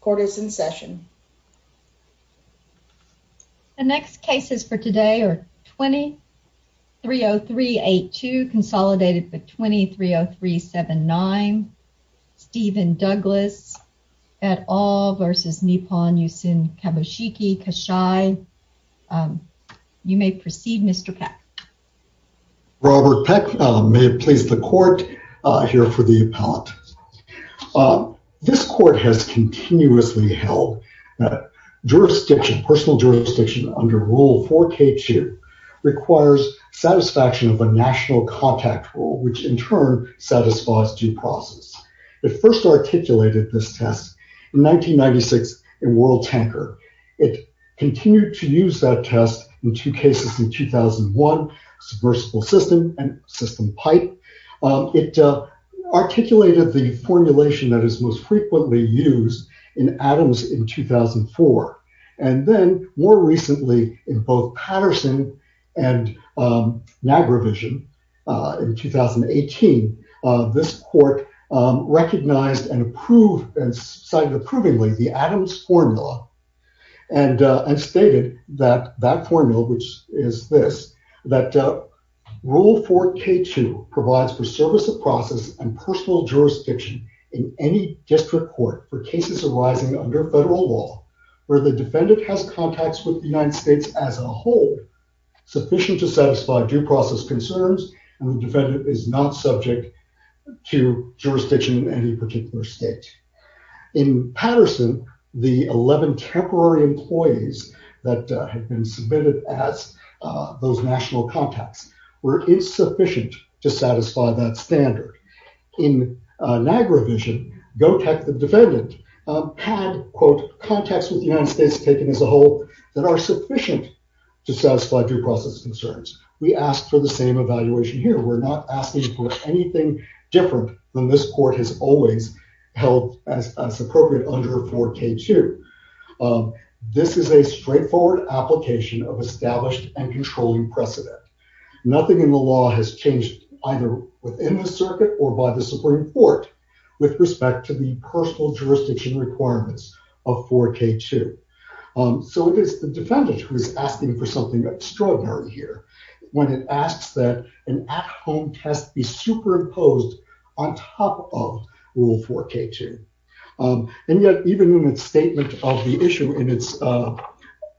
Court is in session. The next cases for today are 20-30382 consolidated with 20-30379 Stephen Douglas et al versus Nippon Yusen Kabushiki Kaisha. You may proceed Mr. Peck. Robert Peck, may it please the court, here for the appellant. This court has continuously held that jurisdiction, personal jurisdiction under Rule 4k2 requires satisfaction of a national contact rule which in turn satisfies due process. It first articulated this test in 1996 in World Tanker. It continued to use that test in two subversive system and system pipe. It articulated the formulation that is most frequently used in Adams in 2004. And then more recently in both Patterson and Nagravision in 2018, this court recognized and approved and signed approvingly the Adams formula and stated that that formula, which is this, that Rule 4k2 provides for service of process and personal jurisdiction in any district court for cases arising under federal law where the defendant has contacts with the United States as a whole sufficient to satisfy due process concerns and the defendant is not subject to jurisdiction in any particular state. In Patterson, the 11 temporary employees that had been submitted as those national contacts were insufficient to satisfy that standard. In Nagravision, Gotek, the defendant, had, quote, contacts with the United States taken as a whole that are sufficient to satisfy due process concerns. We asked for the same evaluation here. We're not asking for anything different than this court has always held as appropriate under 4k2. This is a straightforward application of established and controlling precedent. Nothing in the law has changed either within the circuit or by the Supreme Court with respect to the personal jurisdiction requirements of 4k2. So it is the defendant who is asking for something extraordinary here when it asks that an at-home test be superimposed on top of Rule 4k2. And yet even in its statement of the issue in its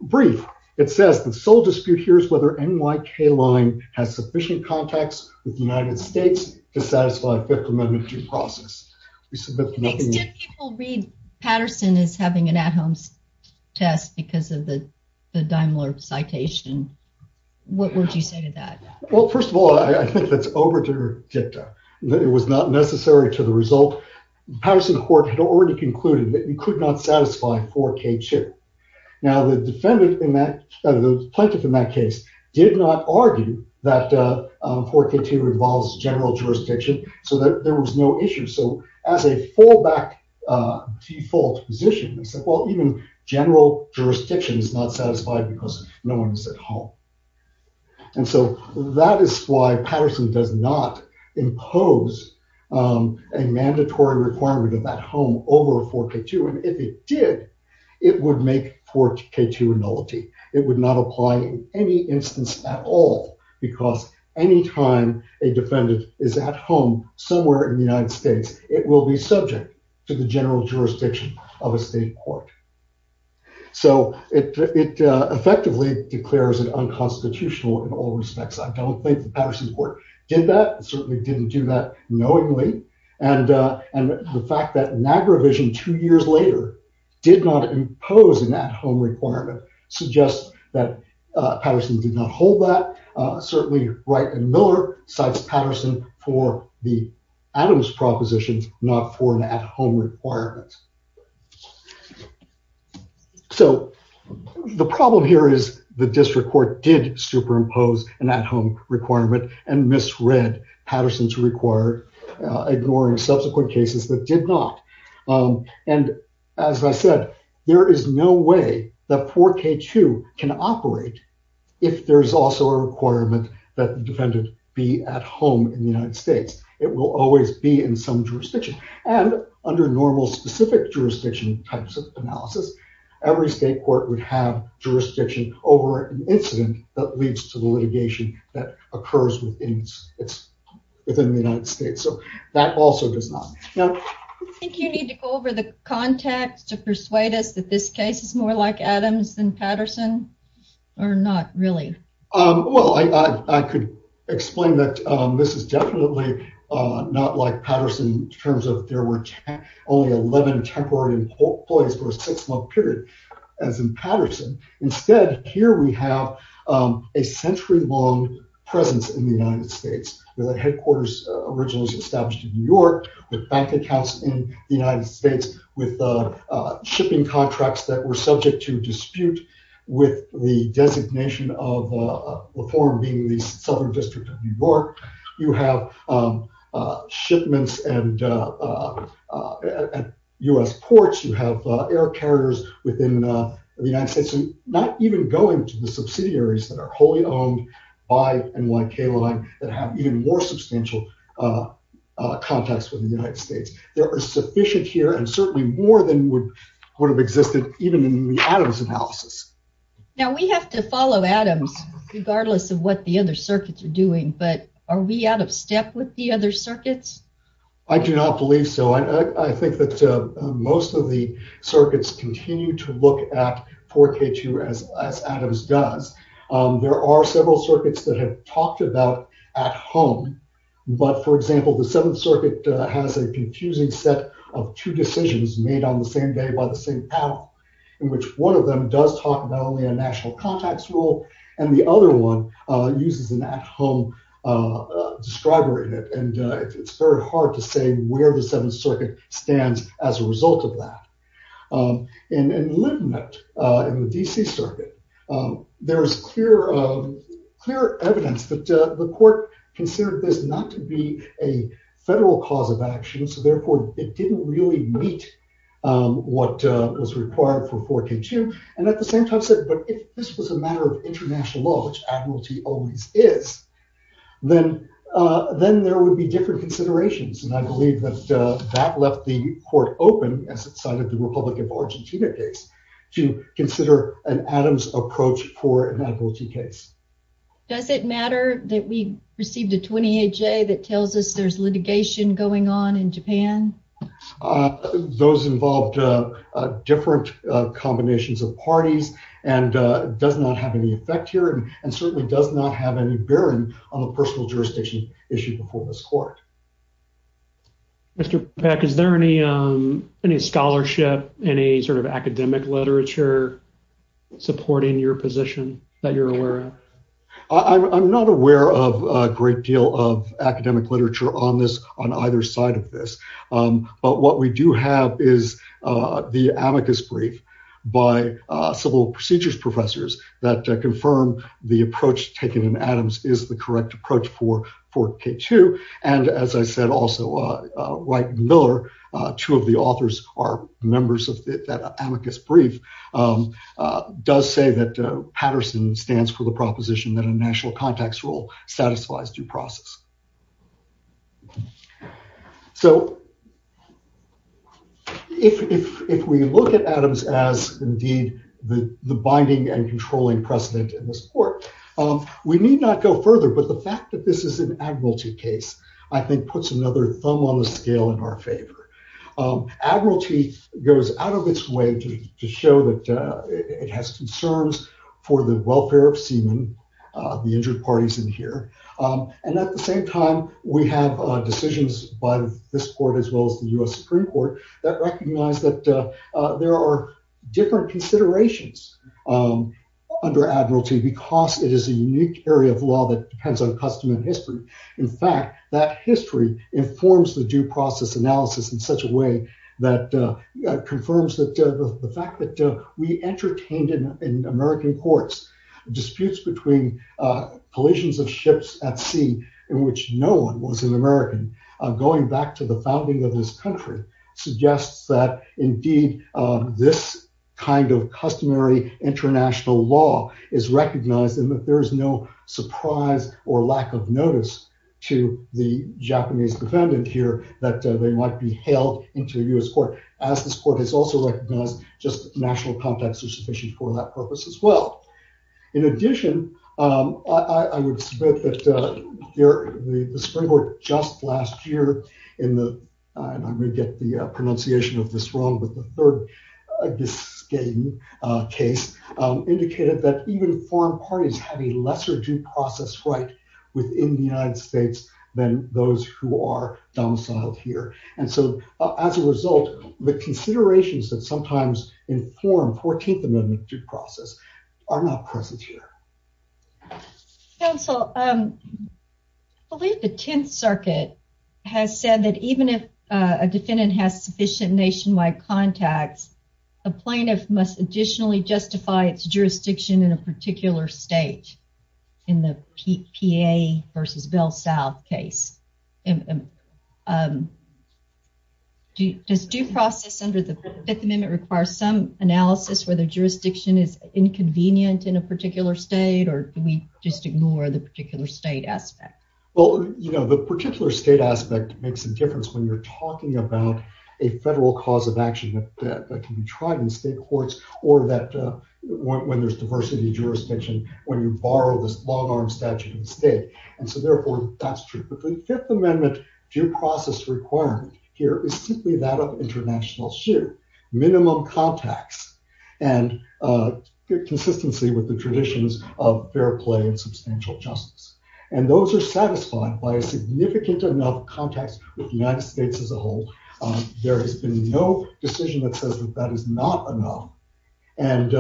brief, it says the sole dispute here is whether NYK line has sufficient contacts with the United States to satisfy a fifth amendment due process. To the extent people read Patterson as having an at-home test because of the the Daimler citation, what would you say to that? Well, first of all, I think that's over-dicta. It was not necessary to the result. Patterson Court had already concluded that you could not satisfy 4k2. Now, the plaintiff in that case did not argue that 4k2 involves general jurisdiction so that there was no issue. So as a fallback default position, they said, well, even general jurisdiction is not satisfied because no one is at home. And so that is why Patterson does not impose a mandatory requirement of that home over 4k2. And if it did, it would make 4k2 nullity. It would not apply in any instance at all because any time a defendant is at home somewhere in the United States, it will be subject to the general constitutional in all respects. I don't think the Patterson Court did that. It certainly didn't do that knowingly. And the fact that Niagara Vision two years later did not impose an at-home requirement suggests that Patterson did not hold that. Certainly Wright and Miller cites Patterson for the Adams propositions, not for an at-home requirement. So the problem here is the district court did superimpose an at-home requirement and misread Patterson's required ignoring subsequent cases that did not. And as I said, there is no way that 4k2 can operate if there's also a requirement that defendant be at home in the United States. It will always be in some jurisdiction. And under normal specific jurisdiction types of analysis, every state court would have jurisdiction over an incident that leads to the litigation that occurs within the United States. So that also does not. Now I think you need to go over the context to persuade us that this case is more like Adams than Patterson or not really. Well, I could explain that this is definitely not like Patterson in terms of there were only 11 temporary employees for a six-month period as in Patterson. Instead, here we have a century-long presence in the United States where the headquarters originally was established in New York with bank accounts in the United States. You have shipments at U.S. ports. You have air carriers within the United States. And not even going to the subsidiaries that are wholly owned by NYK line that have even more substantial contacts with the United States. There are sufficient here and certainly more than would have existed even in the Adams analysis. Now we have to follow Adams regardless of what the other circuits are doing. But are we out of step with the other circuits? I do not believe so. I think that most of the circuits continue to look at 4K2 as Adams does. There are several circuits that have talked about at home. But for example, the Seventh Circuit has a confusing set of two decisions made on the same day by the same panel in which one of them does talk about only a national contacts rule and the other one uses an at-home describer in it. And it is very hard to say where the Seventh Circuit stands as a result of that. And in Lindenet in the D.C. Circuit, there is clear evidence that the court considered this not to be a federal cause of action. So therefore, it did not really meet what was required for 4K2. And at the same time said, but if this was a matter of international law, which admiralty always is, then there would be different considerations. And I believe that that left the court open, as it cited the Republic of Argentina case, to consider an Adams approach for an admiralty case. Does it matter that we received a 28-J that tells us there's litigation going on in Japan? Those involved different combinations of parties and does not have any effect here and certainly does not have any bearing on the personal jurisdiction issue before this court. Mr. Peck, is there any scholarship, any sort of academic literature supporting your position that you're aware of? I'm not aware of a great deal of academic literature on this, on either side of this. But what we do have is the amicus brief by civil procedures professors that confirm the approach taken in Adams is the correct approach for 4K2. And as I said also, Wright and Miller, two of the authors are members of that amicus brief, does say that Patterson stands for the proposition that a national context rule satisfies due process. So if we look at Adams as indeed the binding and controlling precedent in this court, we need not go further. But the fact that this is an admiralty case, I think puts another thumb on the scale in our favor. Admiralty goes out of its way to show that it has concerns for the welfare of seamen, the injured parties in here. And at the same time, we have decisions by this court as well as the US Supreme Court that recognize that there are different considerations under admiralty because it is a unique area of law that depends on custom history. In fact, that history informs the due process analysis in such a way that confirms the fact that we entertained in American courts, disputes between collisions of ships at sea, in which no one was an American, going back to the founding of this country, suggests that indeed, this kind of customary international law is recognized and that there is no surprise or lack of notice to the Japanese defendant here that they might be hailed into the US court, as this court has also recognized just national context is sufficient for that purpose as well. In addition, I would submit that the Supreme Court just last year, and I'm going to get the pronunciation of this wrong, but the third case indicated that even foreign parties have a lesser due process right within the United States than those who are domiciled here. And so as a result, the considerations that sometimes inform 14th Amendment due process are not present here. Counsel, I believe the 10th circuit has said that even if a defendant has sufficient nationwide contacts, a plaintiff must additionally justify its jurisdiction in a particular state. In the PA versus Bell South case, does due process under the Fifth Amendment require some analysis where the jurisdiction is inconvenient in a particular state, or do we just ignore the particular state aspect? Well, you know, the particular state aspect makes a difference when you're talking about a federal cause of action that can be tried in state courts, or that when there's diversity jurisdiction, when you borrow this long arm statute in state. And so therefore, that's true. But the Fifth Amendment due process requirement here is simply that of international share, minimum contacts, and consistency with the traditions of fair play and substantial justice. And those are satisfied by a significant enough context with the United States as a whole. There has been no decision that says that that is not enough. And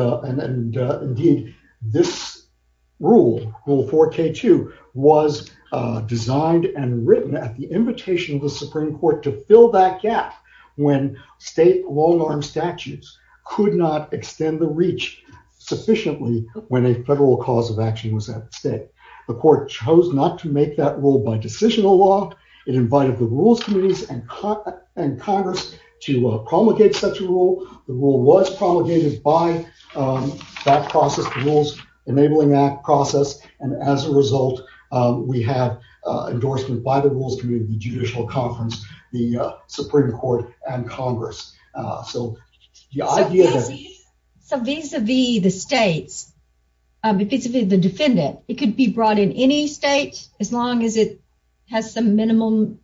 indeed, this rule, Rule 4K2, was designed and written at the invitation of the Supreme Court to fill that gap when state long arm statutes could not extend the reach sufficiently when a federal cause of action was at stake. The court chose not to make that rule by decisional law. It invited the rules committees and Congress to promulgate such a rule. The rule was promulgated by that process, the Rules Enabling Act process. And as a result, we have endorsement by the rules committee, the judicial conference, the Supreme Court, and Congress. So the idea that- So vis-a-vis the states, vis-a-vis the defendant, it could be brought in any state as long as it has some minimum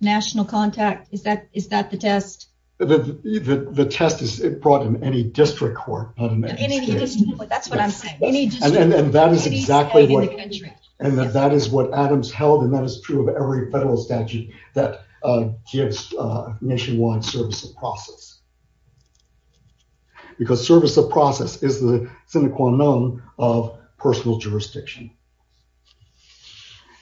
national contact. Is that the test? The test is it brought in any district court, not in any state. That's what I'm saying. Any district. And that is exactly what- Any state in the country. And that is what Adams held, and that is true of every federal statute that gives nationwide service of process. Because service of process is the sine qua non of personal jurisdiction.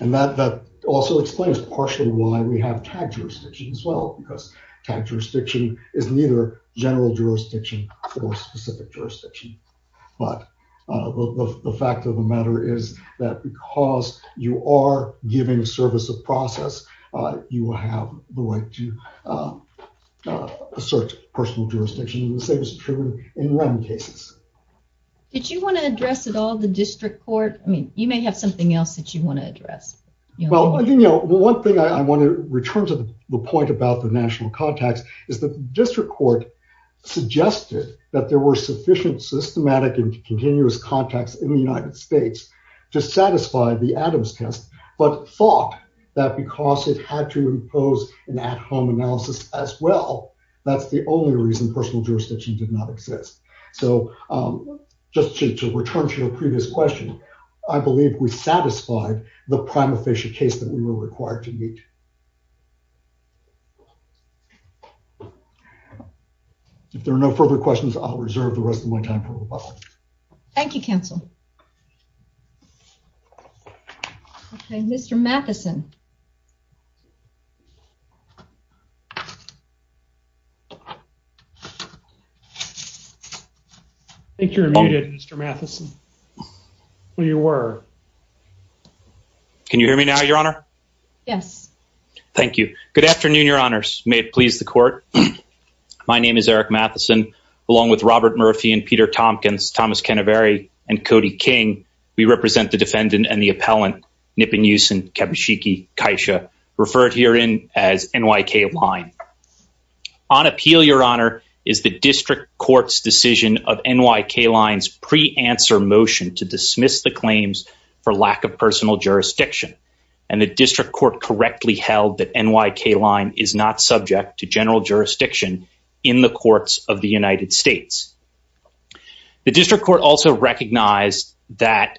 And that also explains partially why we have tagged jurisdiction as well, because tagged jurisdiction is neither general jurisdiction for specific jurisdiction. But the fact of the matter is that because you are giving service of process, you will have the right to assert personal jurisdiction, the same is true in REM cases. Did you want to address at all the district court? I mean, you may have something else that you want to address. Well, one thing I want to return to the point about the national contacts is that the district court suggested that there were sufficient systematic and continuous contacts in the United States to satisfy the Adams test, but thought that because it had to impose an at-home analysis as well, that's the only reason personal jurisdiction did not exist. So just to return to your previous question, I believe we satisfied the prima facie case that we were required to meet. If there are no further questions, I'll reserve the rest of my time for rebuttal. Thank you, counsel. Okay, Mr. Matheson. I think you're muted, Mr. Matheson. Well, you were. Can you hear me now, your honor? Yes. Thank you. Good afternoon, your honors. May it please the court. My name is Eric Matheson, along with Robert Murphy and Peter Tompkins, Thomas Canaveri, and Cody King. We represent the defendant and the appellant, Nipon Yusin, Kabushiki Kaisha, referred herein as NYK Line. On appeal, your honor, is the district court's decision of NYK Line's pre-answer motion to dismiss the claims for lack of personal jurisdiction, and the district court correctly held that NYK Line is not subject to general jurisdiction in the courts of the United States. The district court also recognized that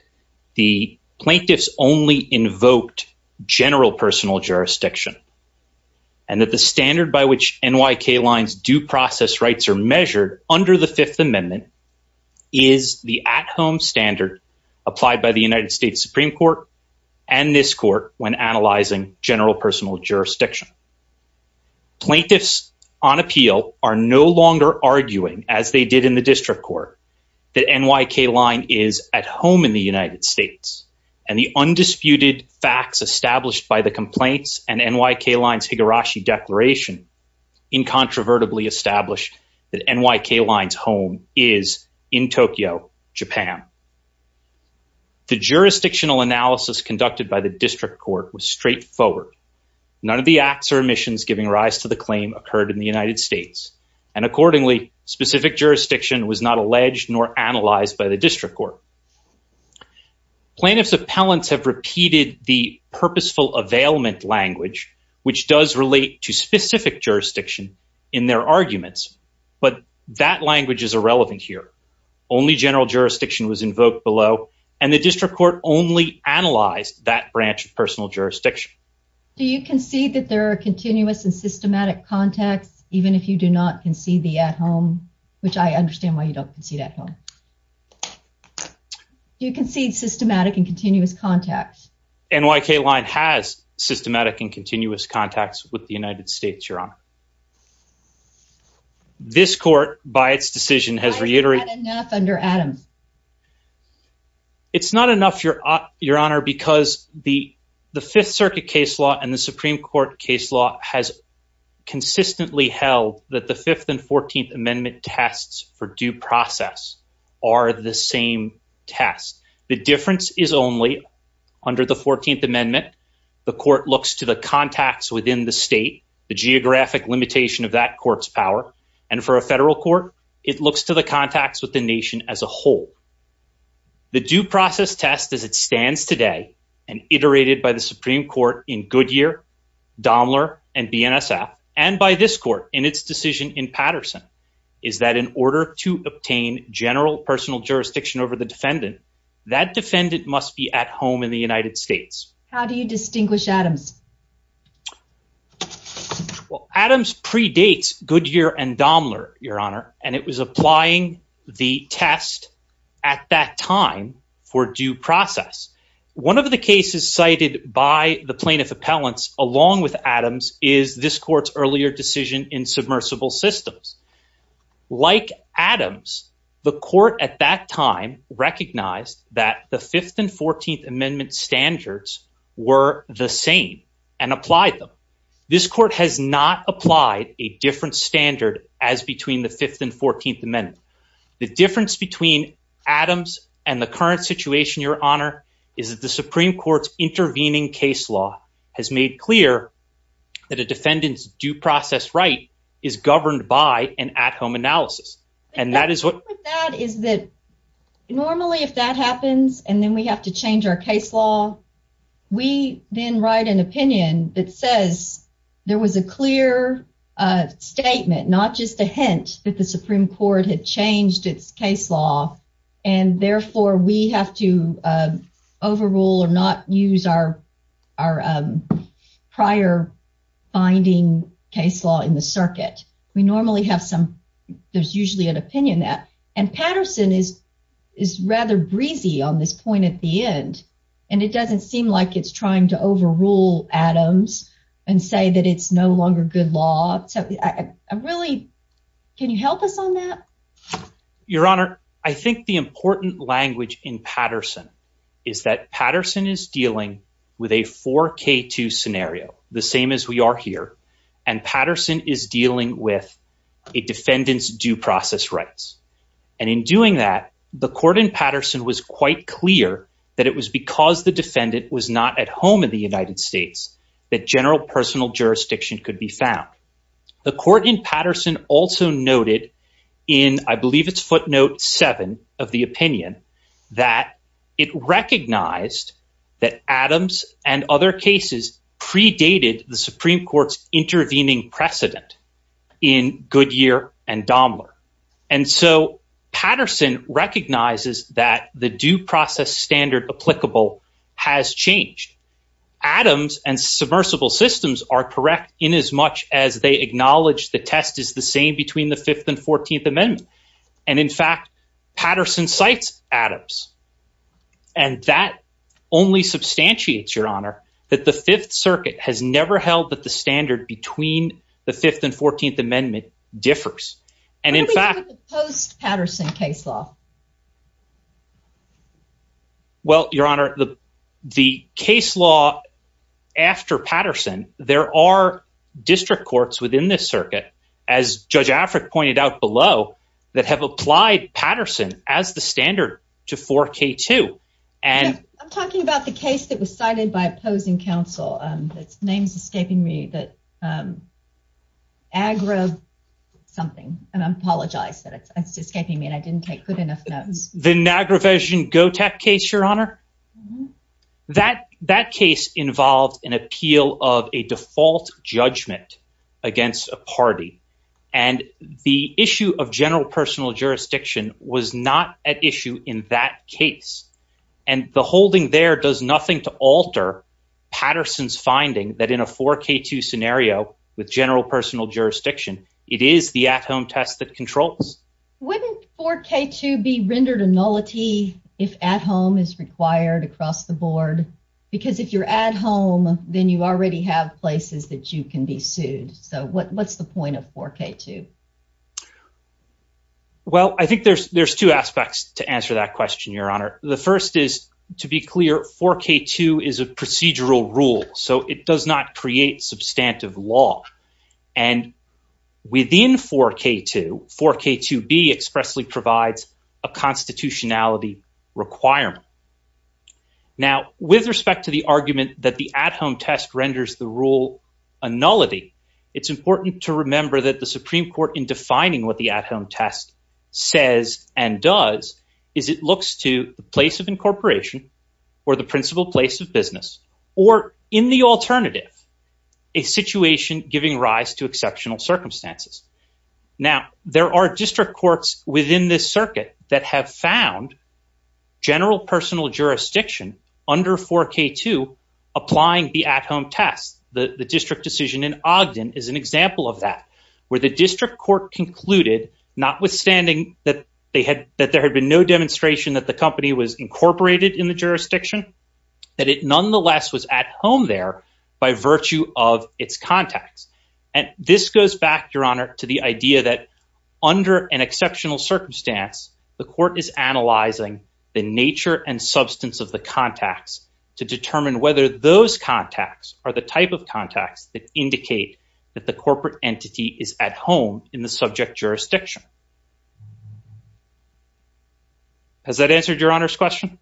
the plaintiffs only invoked general personal jurisdiction, and that the standard by which NYK Lines do process rights are measured under the Fifth Amendment is the at-home standard applied by the United States Supreme Court and this court when analyzing general personal jurisdiction. Plaintiffs on appeal are no longer arguing, as they did in the district court, that NYK Line is at home in the United States, and the undisputed facts established by the complaints and NYK Line's Higurashi Declaration incontrovertibly established that NYK Line's home is in Tokyo, Japan. The jurisdictional analysis conducted by the district court was straightforward. None of the acts or omissions giving rise to the claim occurred in the United States, and accordingly, specific jurisdiction was not alleged nor analyzed by the district court. Plaintiffs' appellants have repeated the purposeful availment language, which does relate to specific jurisdiction in their arguments, but that language is irrelevant here. Only general jurisdiction was invoked below, and the district court only analyzed that branch of personal jurisdiction. Do you concede that there are continuous and systematic contacts, even if you do not concede the at-home, which I understand why you don't concede at-home. Do you concede systematic and continuous contacts? NYK Line has systematic and continuous contacts with the United States, Your Honor. This court, by its decision, has reiterated- Why is that enough under Adams? It's not enough, Your Honor, because the Fifth Circuit case law and the Supreme Court case law has consistently held that the Fifth and Fourteenth Amendment tests for due process are the same test. The difference is only, under the Fourteenth Amendment, the court looks to the contacts within the state, the geographic limitation of that court's power, and for a federal court, the state's power to hold. The due process test as it stands today, and iterated by the Supreme Court in Goodyear, Domler, and BNSF, and by this court in its decision in Patterson, is that in order to obtain general personal jurisdiction over the defendant, that defendant must be at home in the United States. How do you distinguish Adams? Well, Adams predates Goodyear and Domler, Your Honor, and it was applying the test at that time for due process. One of the cases cited by the plaintiff appellants, along with Adams, is this court's earlier decision in submersible systems. Like Adams, the court at that time recognized that the Fifth and Fourteenth Amendment standards were the same and applied them. This court has not applied a different standard as between the Fifth and Fourteenth Amendment. The difference between Adams and the current situation, Your Honor, is that the Supreme Court's intervening case law has made clear that a defendant's due process right is governed by an at-home analysis, and that is what- The difference with that is that normally if that happens and then we have to change our case law, we then write an opinion that says there was a clear statement, not just a hint that the Supreme Court had changed its case law, and therefore we have to overrule or not use our prior binding case law in the circuit. We normally have some- there's usually an opinion that- and Patterson is rather breezy on this point at the end, and it doesn't seem like it's trying to overrule Adams and say that it's no longer good law. Really, can you help us on that? Your Honor, I think the important language in Patterson is that Patterson is dealing with a 4K2 scenario, the same as we are here, and Patterson is dealing with a defendant's due process rights, and in doing that, the court in Patterson was quite clear that it was because the defendant was not at home in the United States that general personal jurisdiction could be found. The court in Patterson also noted in, I believe it's footnote seven of the opinion, that it recognized that Adams and other cases predated the Supreme Court's intervening precedent in Goodyear and Daimler, and so Patterson recognizes that the due process standard applicable has changed. Adams and submersible systems are correct inasmuch as they acknowledge the test is the same between the 5th and 14th Amendment, and in fact, Patterson cites Adams, and that only substantiates, Your Honor, that the 5th Circuit has never held that the standard between the 5th and 14th Amendment differs, and in fact- What about the post-Patterson case law? Well, Your Honor, the case law after Patterson, there are district courts within this circuit, as Judge Afric pointed out below, that have applied Patterson as the standard to 4K2, and- I'm talking about the case that was cited by opposing counsel. Its name's escaping me, that Agra something, and I apologize that it's escaping me, and I didn't take good enough notes. The Nagravesan-Gotek case, Your Honor? That case involved an appeal of a default judgment against a party, and the issue of general personal jurisdiction was not at issue in that case, and the holding there does nothing to alter Patterson's finding that in a 4K2 scenario with general personal jurisdiction, it is the at-home test that controls. Wouldn't 4K2 be rendered a nullity if at-home is required across the board? Because if you're at home, then you already have places that you can be sued. So what's the point of 4K2? Well, I think there's two aspects to answer that question, Your Honor. The first is, to be clear, 4K2 is a procedural rule, so it does not create substantive law. And within 4K2, 4K2b expressly provides a constitutionality requirement. Now, with respect to the argument that the at-home test renders the rule a nullity, it's important to remember that the Supreme Court, in defining what the at-home test says and does, is it looks to the place of incorporation or the principal place of business, or in the alternative, a situation giving rise to exceptional circumstances. Now, there are district courts within this circuit that have found general personal jurisdiction under 4K2 applying the at-home test. The district decision in Ogden is an example of that, where the district court concluded, notwithstanding that there had been no demonstration that the company was at home there by virtue of its contacts. And this goes back, Your Honor, to the idea that under an exceptional circumstance, the court is analyzing the nature and substance of the contacts to determine whether those contacts are the type of contacts that indicate that the corporate entity is at home in the subject jurisdiction. Has that answered Your Honor's question?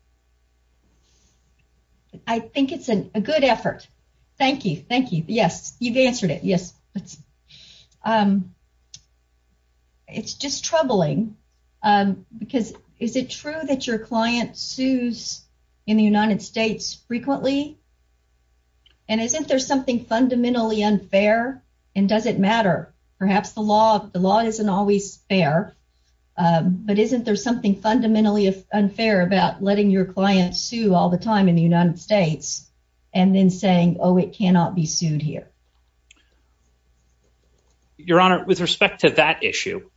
I think it's a good effort. Thank you. Thank you. Yes, you've answered it. Yes. It's just troubling, because is it true that your client sues in the United States frequently? And isn't there something fundamentally unfair? And does it matter? Perhaps the law isn't always fair, but isn't there something fundamentally unfair about letting your client sue all the time in the United States, and then saying, oh, it cannot be sued here? Your Honor, with respect to that issue,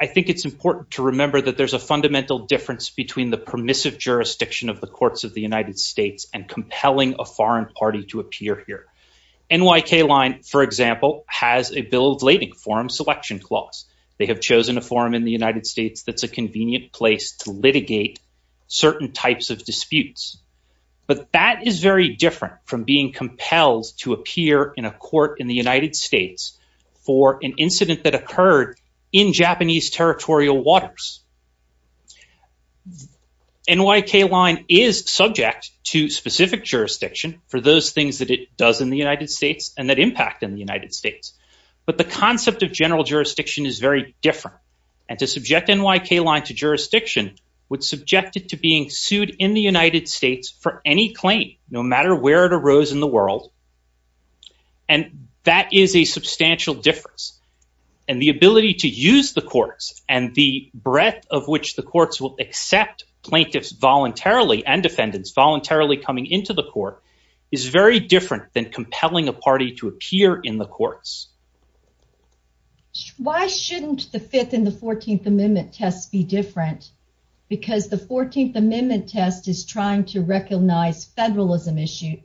I think it's important to remember that there's a fundamental difference between the permissive jurisdiction of the courts of the United States and compelling a foreign party to appear here. NYK Line, for example, has a bill of lading, Forum Selection Clause. They have chosen a forum in the United States that's a convenient place to litigate certain types of disputes. But that is very different from being compelled to appear in a court in the United States for an incident that occurred in Japanese territorial waters. NYK Line is subject to specific jurisdiction for those things that it does in the United States and that impact in the United States. But the concept of general jurisdiction is very different. And to subject NYK Line to jurisdiction would subject it to being sued in the United States for any claim, no matter where it arose in the world. And that is a substantial difference. And the ability to use the courts and the breadth of which the courts will accept plaintiffs voluntarily and defendants voluntarily coming into the court is very different than compelling a party to appear in the courts. NYK Why shouldn't the Fifth and the 14th Amendment tests be different? Because the 14th Amendment test is trying to recognize federalism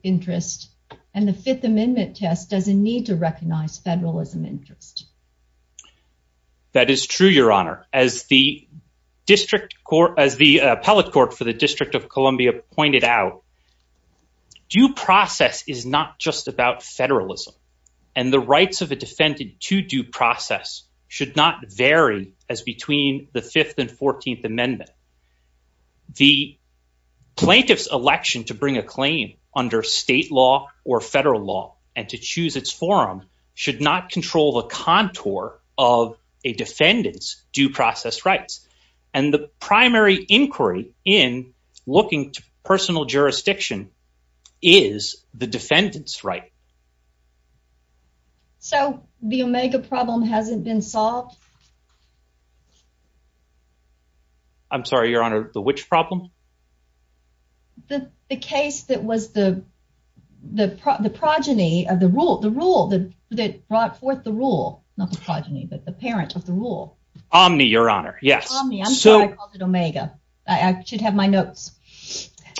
interest, and the Fifth Amendment test doesn't need to recognize federalism interest. NYK That is true, Your Honor. As the district court, as the appellate court for the District of Columbia pointed out, due process is not just about federalism. And the rights of a defendant to due process should not vary as between the Fifth and 14th Amendment. The plaintiff's election to bring a claim under state law or federal law and to choose its forum should not control the contour of a defendant's due process rights. And the primary inquiry in looking to personal jurisdiction is the defendant's right. So the omega problem hasn't been solved. I'm sorry, Your Honor, the which problem? The case that was the progeny of the rule, the rule that brought forth the rule, not the progeny, but the parent of the rule. Omni, Your Honor. Yes. Omni, I'm sorry, I called it omega. I should have my notes.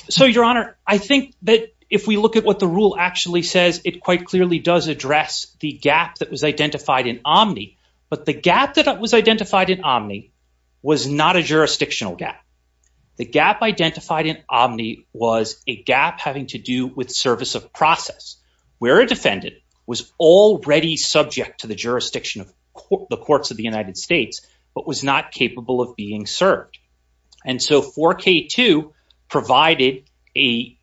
So, Your Honor, I think that if we look at what the rule actually says, it quite clearly does address the gap that was identified in Omni. But the gap that was identified in Omni was not a jurisdictional gap. The gap identified in Omni was a gap having to do with service of process where a defendant was already subject to the jurisdiction of the courts of the United States, but was not capable of being served. And so 4K2 provided a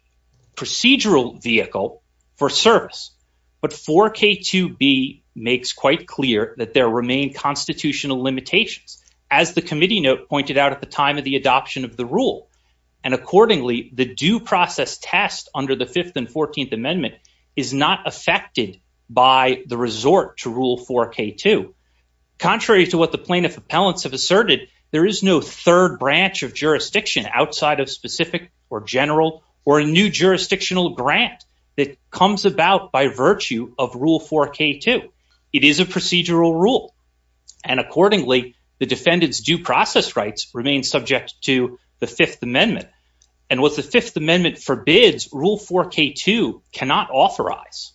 procedural vehicle for service. But 4K2b makes quite clear that there remain constitutional limitations, as the committee note pointed out at the time of the adoption of the rule. And accordingly, the due process test under the 5th and 14th Amendment is not affected by the resort to rule 4K2. Contrary to what the plaintiff appellants have asserted, there is no third branch of jurisdiction outside of specific or general or a new jurisdictional grant that comes about by virtue of Rule 4K2. It is a procedural rule. And accordingly, the defendant's due process rights remain subject to the 5th Amendment. And what the 5th Amendment forbids, Rule 4K2 cannot authorize.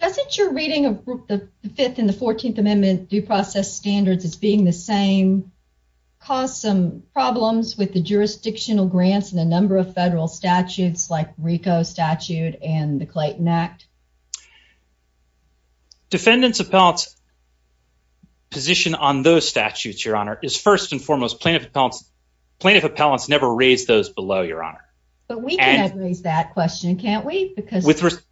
Doesn't your reading of the 5th and the 14th Amendment due process standards as being the same cause some problems with the jurisdictional grants and the number of federal statutes like RICO statute and the Clayton Act? Defendants appellants position on those statutes, Your Honor, is first and foremost plaintiff appellants never raise those below, Your Honor. But we can raise that question, can't we? With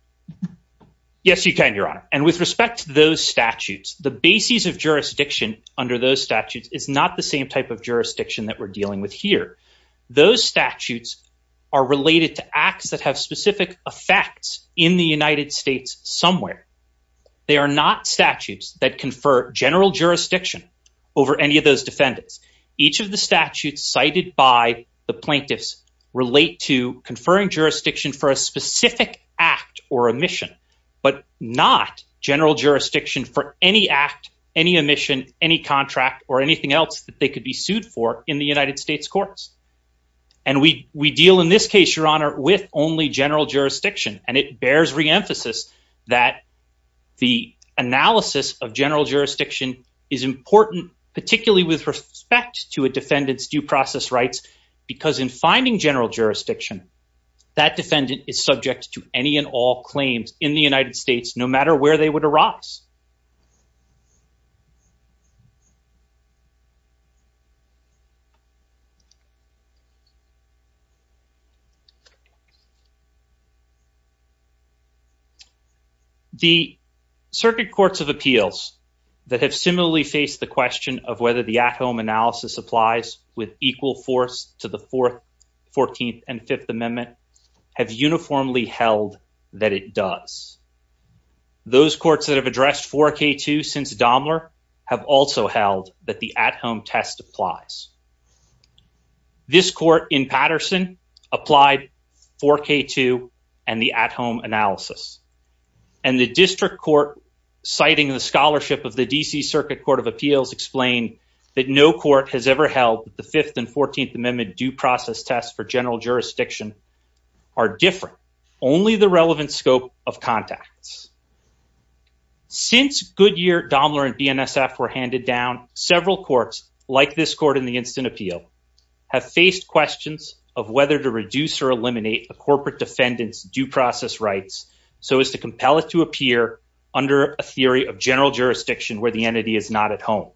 Yes, you can, Your Honor. And with respect to those statutes, the basis of jurisdiction under those statutes is not the same type of jurisdiction that we're dealing with here. Those statutes are related to acts that have specific effects in the United States somewhere. They are not statutes that confer general jurisdiction over any of those defendants. Each of the statutes cited by the plaintiffs relate to conferring jurisdiction for a specific or a mission, but not general jurisdiction for any act, any emission, any contract or anything else that they could be sued for in the United States courts. And we we deal in this case, Your Honor, with only general jurisdiction. And it bears reemphasis that the analysis of general jurisdiction is important, particularly with respect to a defendant's due process rights, because in finding general jurisdiction, that defendant is subject to any and all claims in the United States, no matter where they would arise. The circuit courts of appeals that have similarly faced the question of whether the at-home analysis applies with equal force to the 4th, 14th, and 5th Amendment have uniformly held that it does. Those courts that have addressed 4K2 since Daimler have also held that the at-home test applies. This court in Patterson applied 4K2 and the at-home analysis. And the district court citing the scholarship of the D.C. Circuit Court of Appeals explained that no court has ever held the 5th and 14th Amendment due process tests for general jurisdiction are different, only the relevant scope of contacts. Since Goodyear, Daimler, and BNSF were handed down, several courts like this court in the instant appeal have faced questions of whether to reduce or eliminate a corporate defendant's due process rights so as to compel it to appear under a theory of general jurisdiction where the entity is not at home.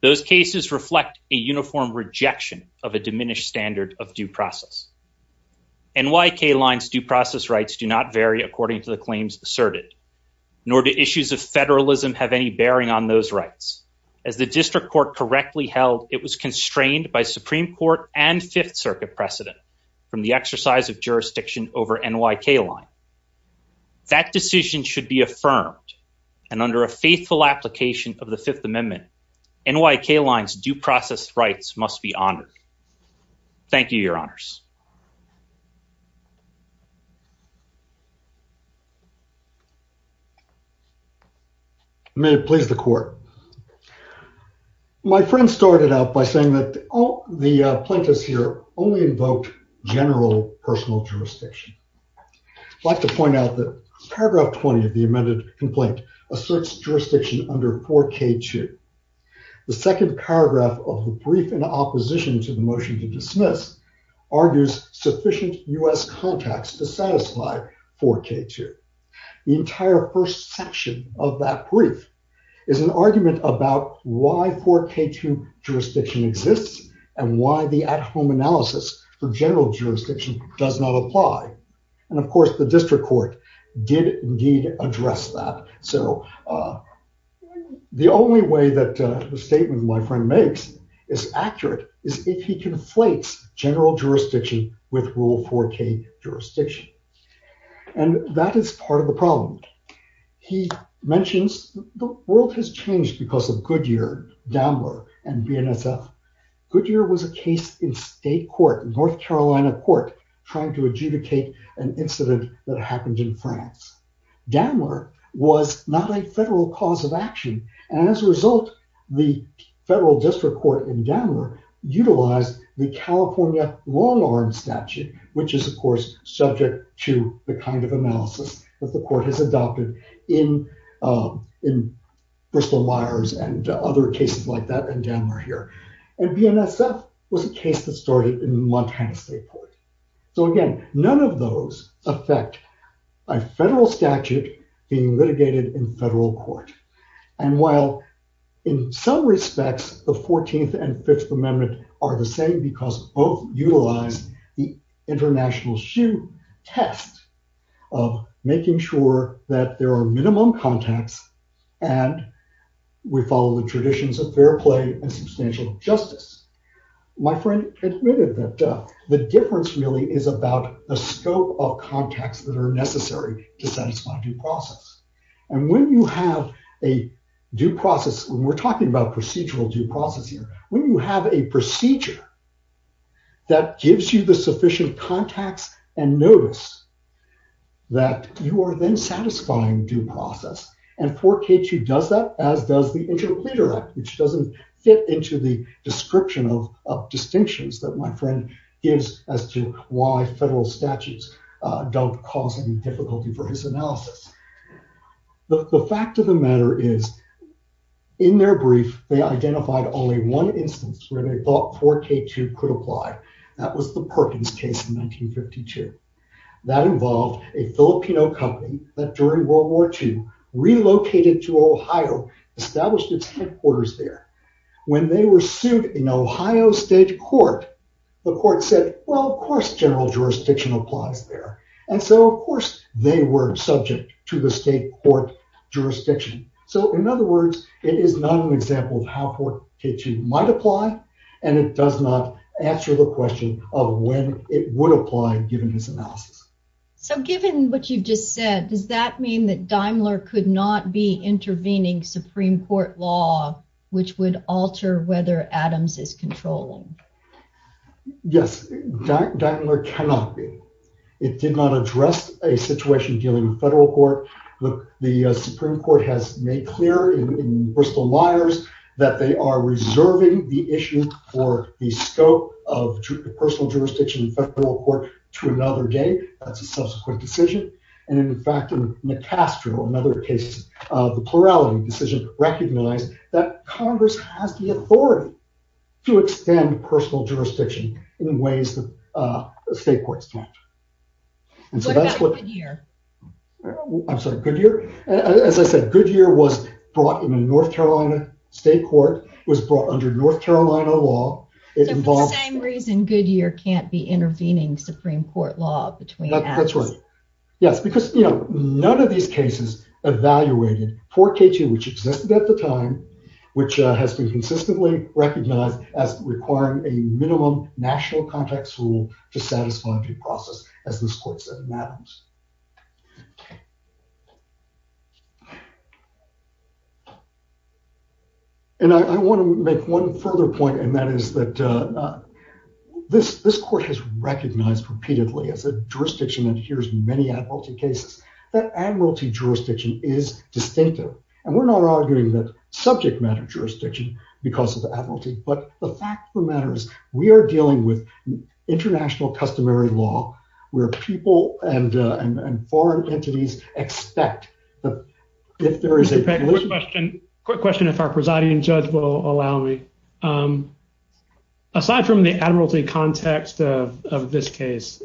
Those cases reflect a uniform rejection of a diminished standard of due process. NYK line's due process rights do not vary according to the claims asserted, nor do issues of federalism have any bearing on those rights. As the district court correctly held, it was constrained by Supreme Court and 5th Circuit precedent from the exercise of jurisdiction over NYK line. That decision should be affirmed and under a faithful application of the 5th Amendment, NYK line's due process rights must be honored. Thank you, your honors. May it please the court. My friend started out by saying that the plaintiffs here only invoked general personal jurisdiction. I'd like to point out that paragraph 20 of the amended complaint asserts jurisdiction under 4K2. The second paragraph of the brief in opposition to the motion to dismiss argues sufficient U.S. contacts to satisfy 4K2. The entire first section of that brief is an argument about why 4K2 jurisdiction exists and why the at-home analysis for general jurisdiction does not apply. And of course, the district court did indeed address that. So the only way that the statement my friend makes is accurate is if he conflates general jurisdiction with rule 4K jurisdiction. And that is part of the problem. He mentions the world has changed because of Goodyear, Daimler, and BNSF. Goodyear was a case in state court, North Carolina court, trying to adjudicate an incident that happened in France. Daimler was not a federal cause of action. And as a result, the federal district court in Daimler utilized the California wrong arm statute, which is, of course, subject to the kind of analysis that the court has adopted in Bristol-Myers and other cases like that and Daimler here. And BNSF was a case that started in Montana state court. So again, none of those affect a federal statute being litigated in federal court. And while in some respects, the 14th and 5th Amendment are the same because both utilize the international shoe test of making sure that there are minimum contacts and we follow the traditions of fair play and substantial justice. My friend admitted that the difference really is about the scope of contacts that are necessary to satisfy due process. And when you have a due process, when we're talking about procedural due process here, when you have a procedure that gives you the sufficient contacts and notice that you are then satisfying due process and 4K2 does that as does the Interim Pleader Act, which doesn't fit into the description of distinctions that my friend gives as to why federal statutes don't cause any difficulty for his analysis. But the fact of the matter is, in their brief, they identified only one instance where they thought 4K2 could apply. That was the Perkins case in 1952. That involved a Filipino company that during World War II relocated to Ohio, established its headquarters there. When they were sued in Ohio State Court, the court said, well, of course, general jurisdiction applies there. And so, of course, they were subject to the state court jurisdiction. So, in other words, it is not an example of how 4K2 might apply and it does not answer the question of when it would apply given this analysis. So, given what you've just said, does that mean that Daimler could not be intervening Supreme Court law, which would alter whether Adams is controlling? Yes, Daimler cannot be. It did not address a situation dealing with federal court. The Supreme Court has made clear in Bristol Liars that they are reserving the issue for the scope of personal jurisdiction in federal court to another day. That's a subsequent decision. And, in fact, in McCastro, another case of the plurality decision, recognized that Congress has the authority to extend personal jurisdiction in ways that state courts can't. As I said, Goodyear was brought in a North Carolina state court, was brought under North Carolina law. So, for the same reason Goodyear can't be intervening Supreme Court law between Adams? That's right. Yes, because, you know, none of these cases evaluated 4K2, which existed at the time, which has been consistently recognized as requiring a minimum national context rule to satisfy due process, as this court said in Adams. And I want to make one further point, and that is that this court has recognized repeatedly as a jurisdiction that adheres to many admiralty cases, that admiralty jurisdiction is distinctive. And we're not arguing that subject matter jurisdiction because of the admiralty. But the fact of the matter is we are dealing with international customary law where people and foreign entities expect that if there is a- Quick question. Quick question, if our presiding judge will allow me. Aside from the admiralty context of this case,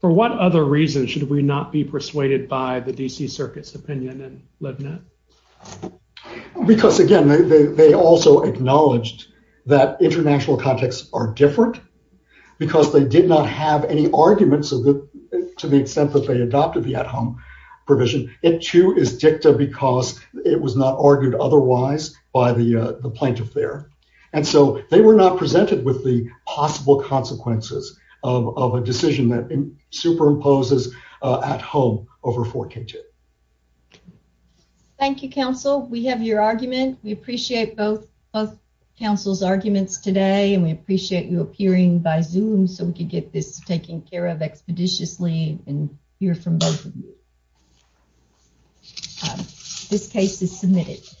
for what other reason should we not be persuaded by the DC Circuit's opinion and LibNet? Because, again, they also acknowledged that international contexts are different because they did not have any arguments to the extent that they adopted the at-home provision. It, too, is dicta because it was not argued otherwise by the plaintiff there. And so they were not presented with the possible consequences of a decision that superimposes at home over 4K2. Thank you, counsel. We have your argument. We appreciate both counsel's arguments today, and we appreciate you appearing by Zoom so we could get this taken care of expeditiously and hear from both of you. This case is submitted.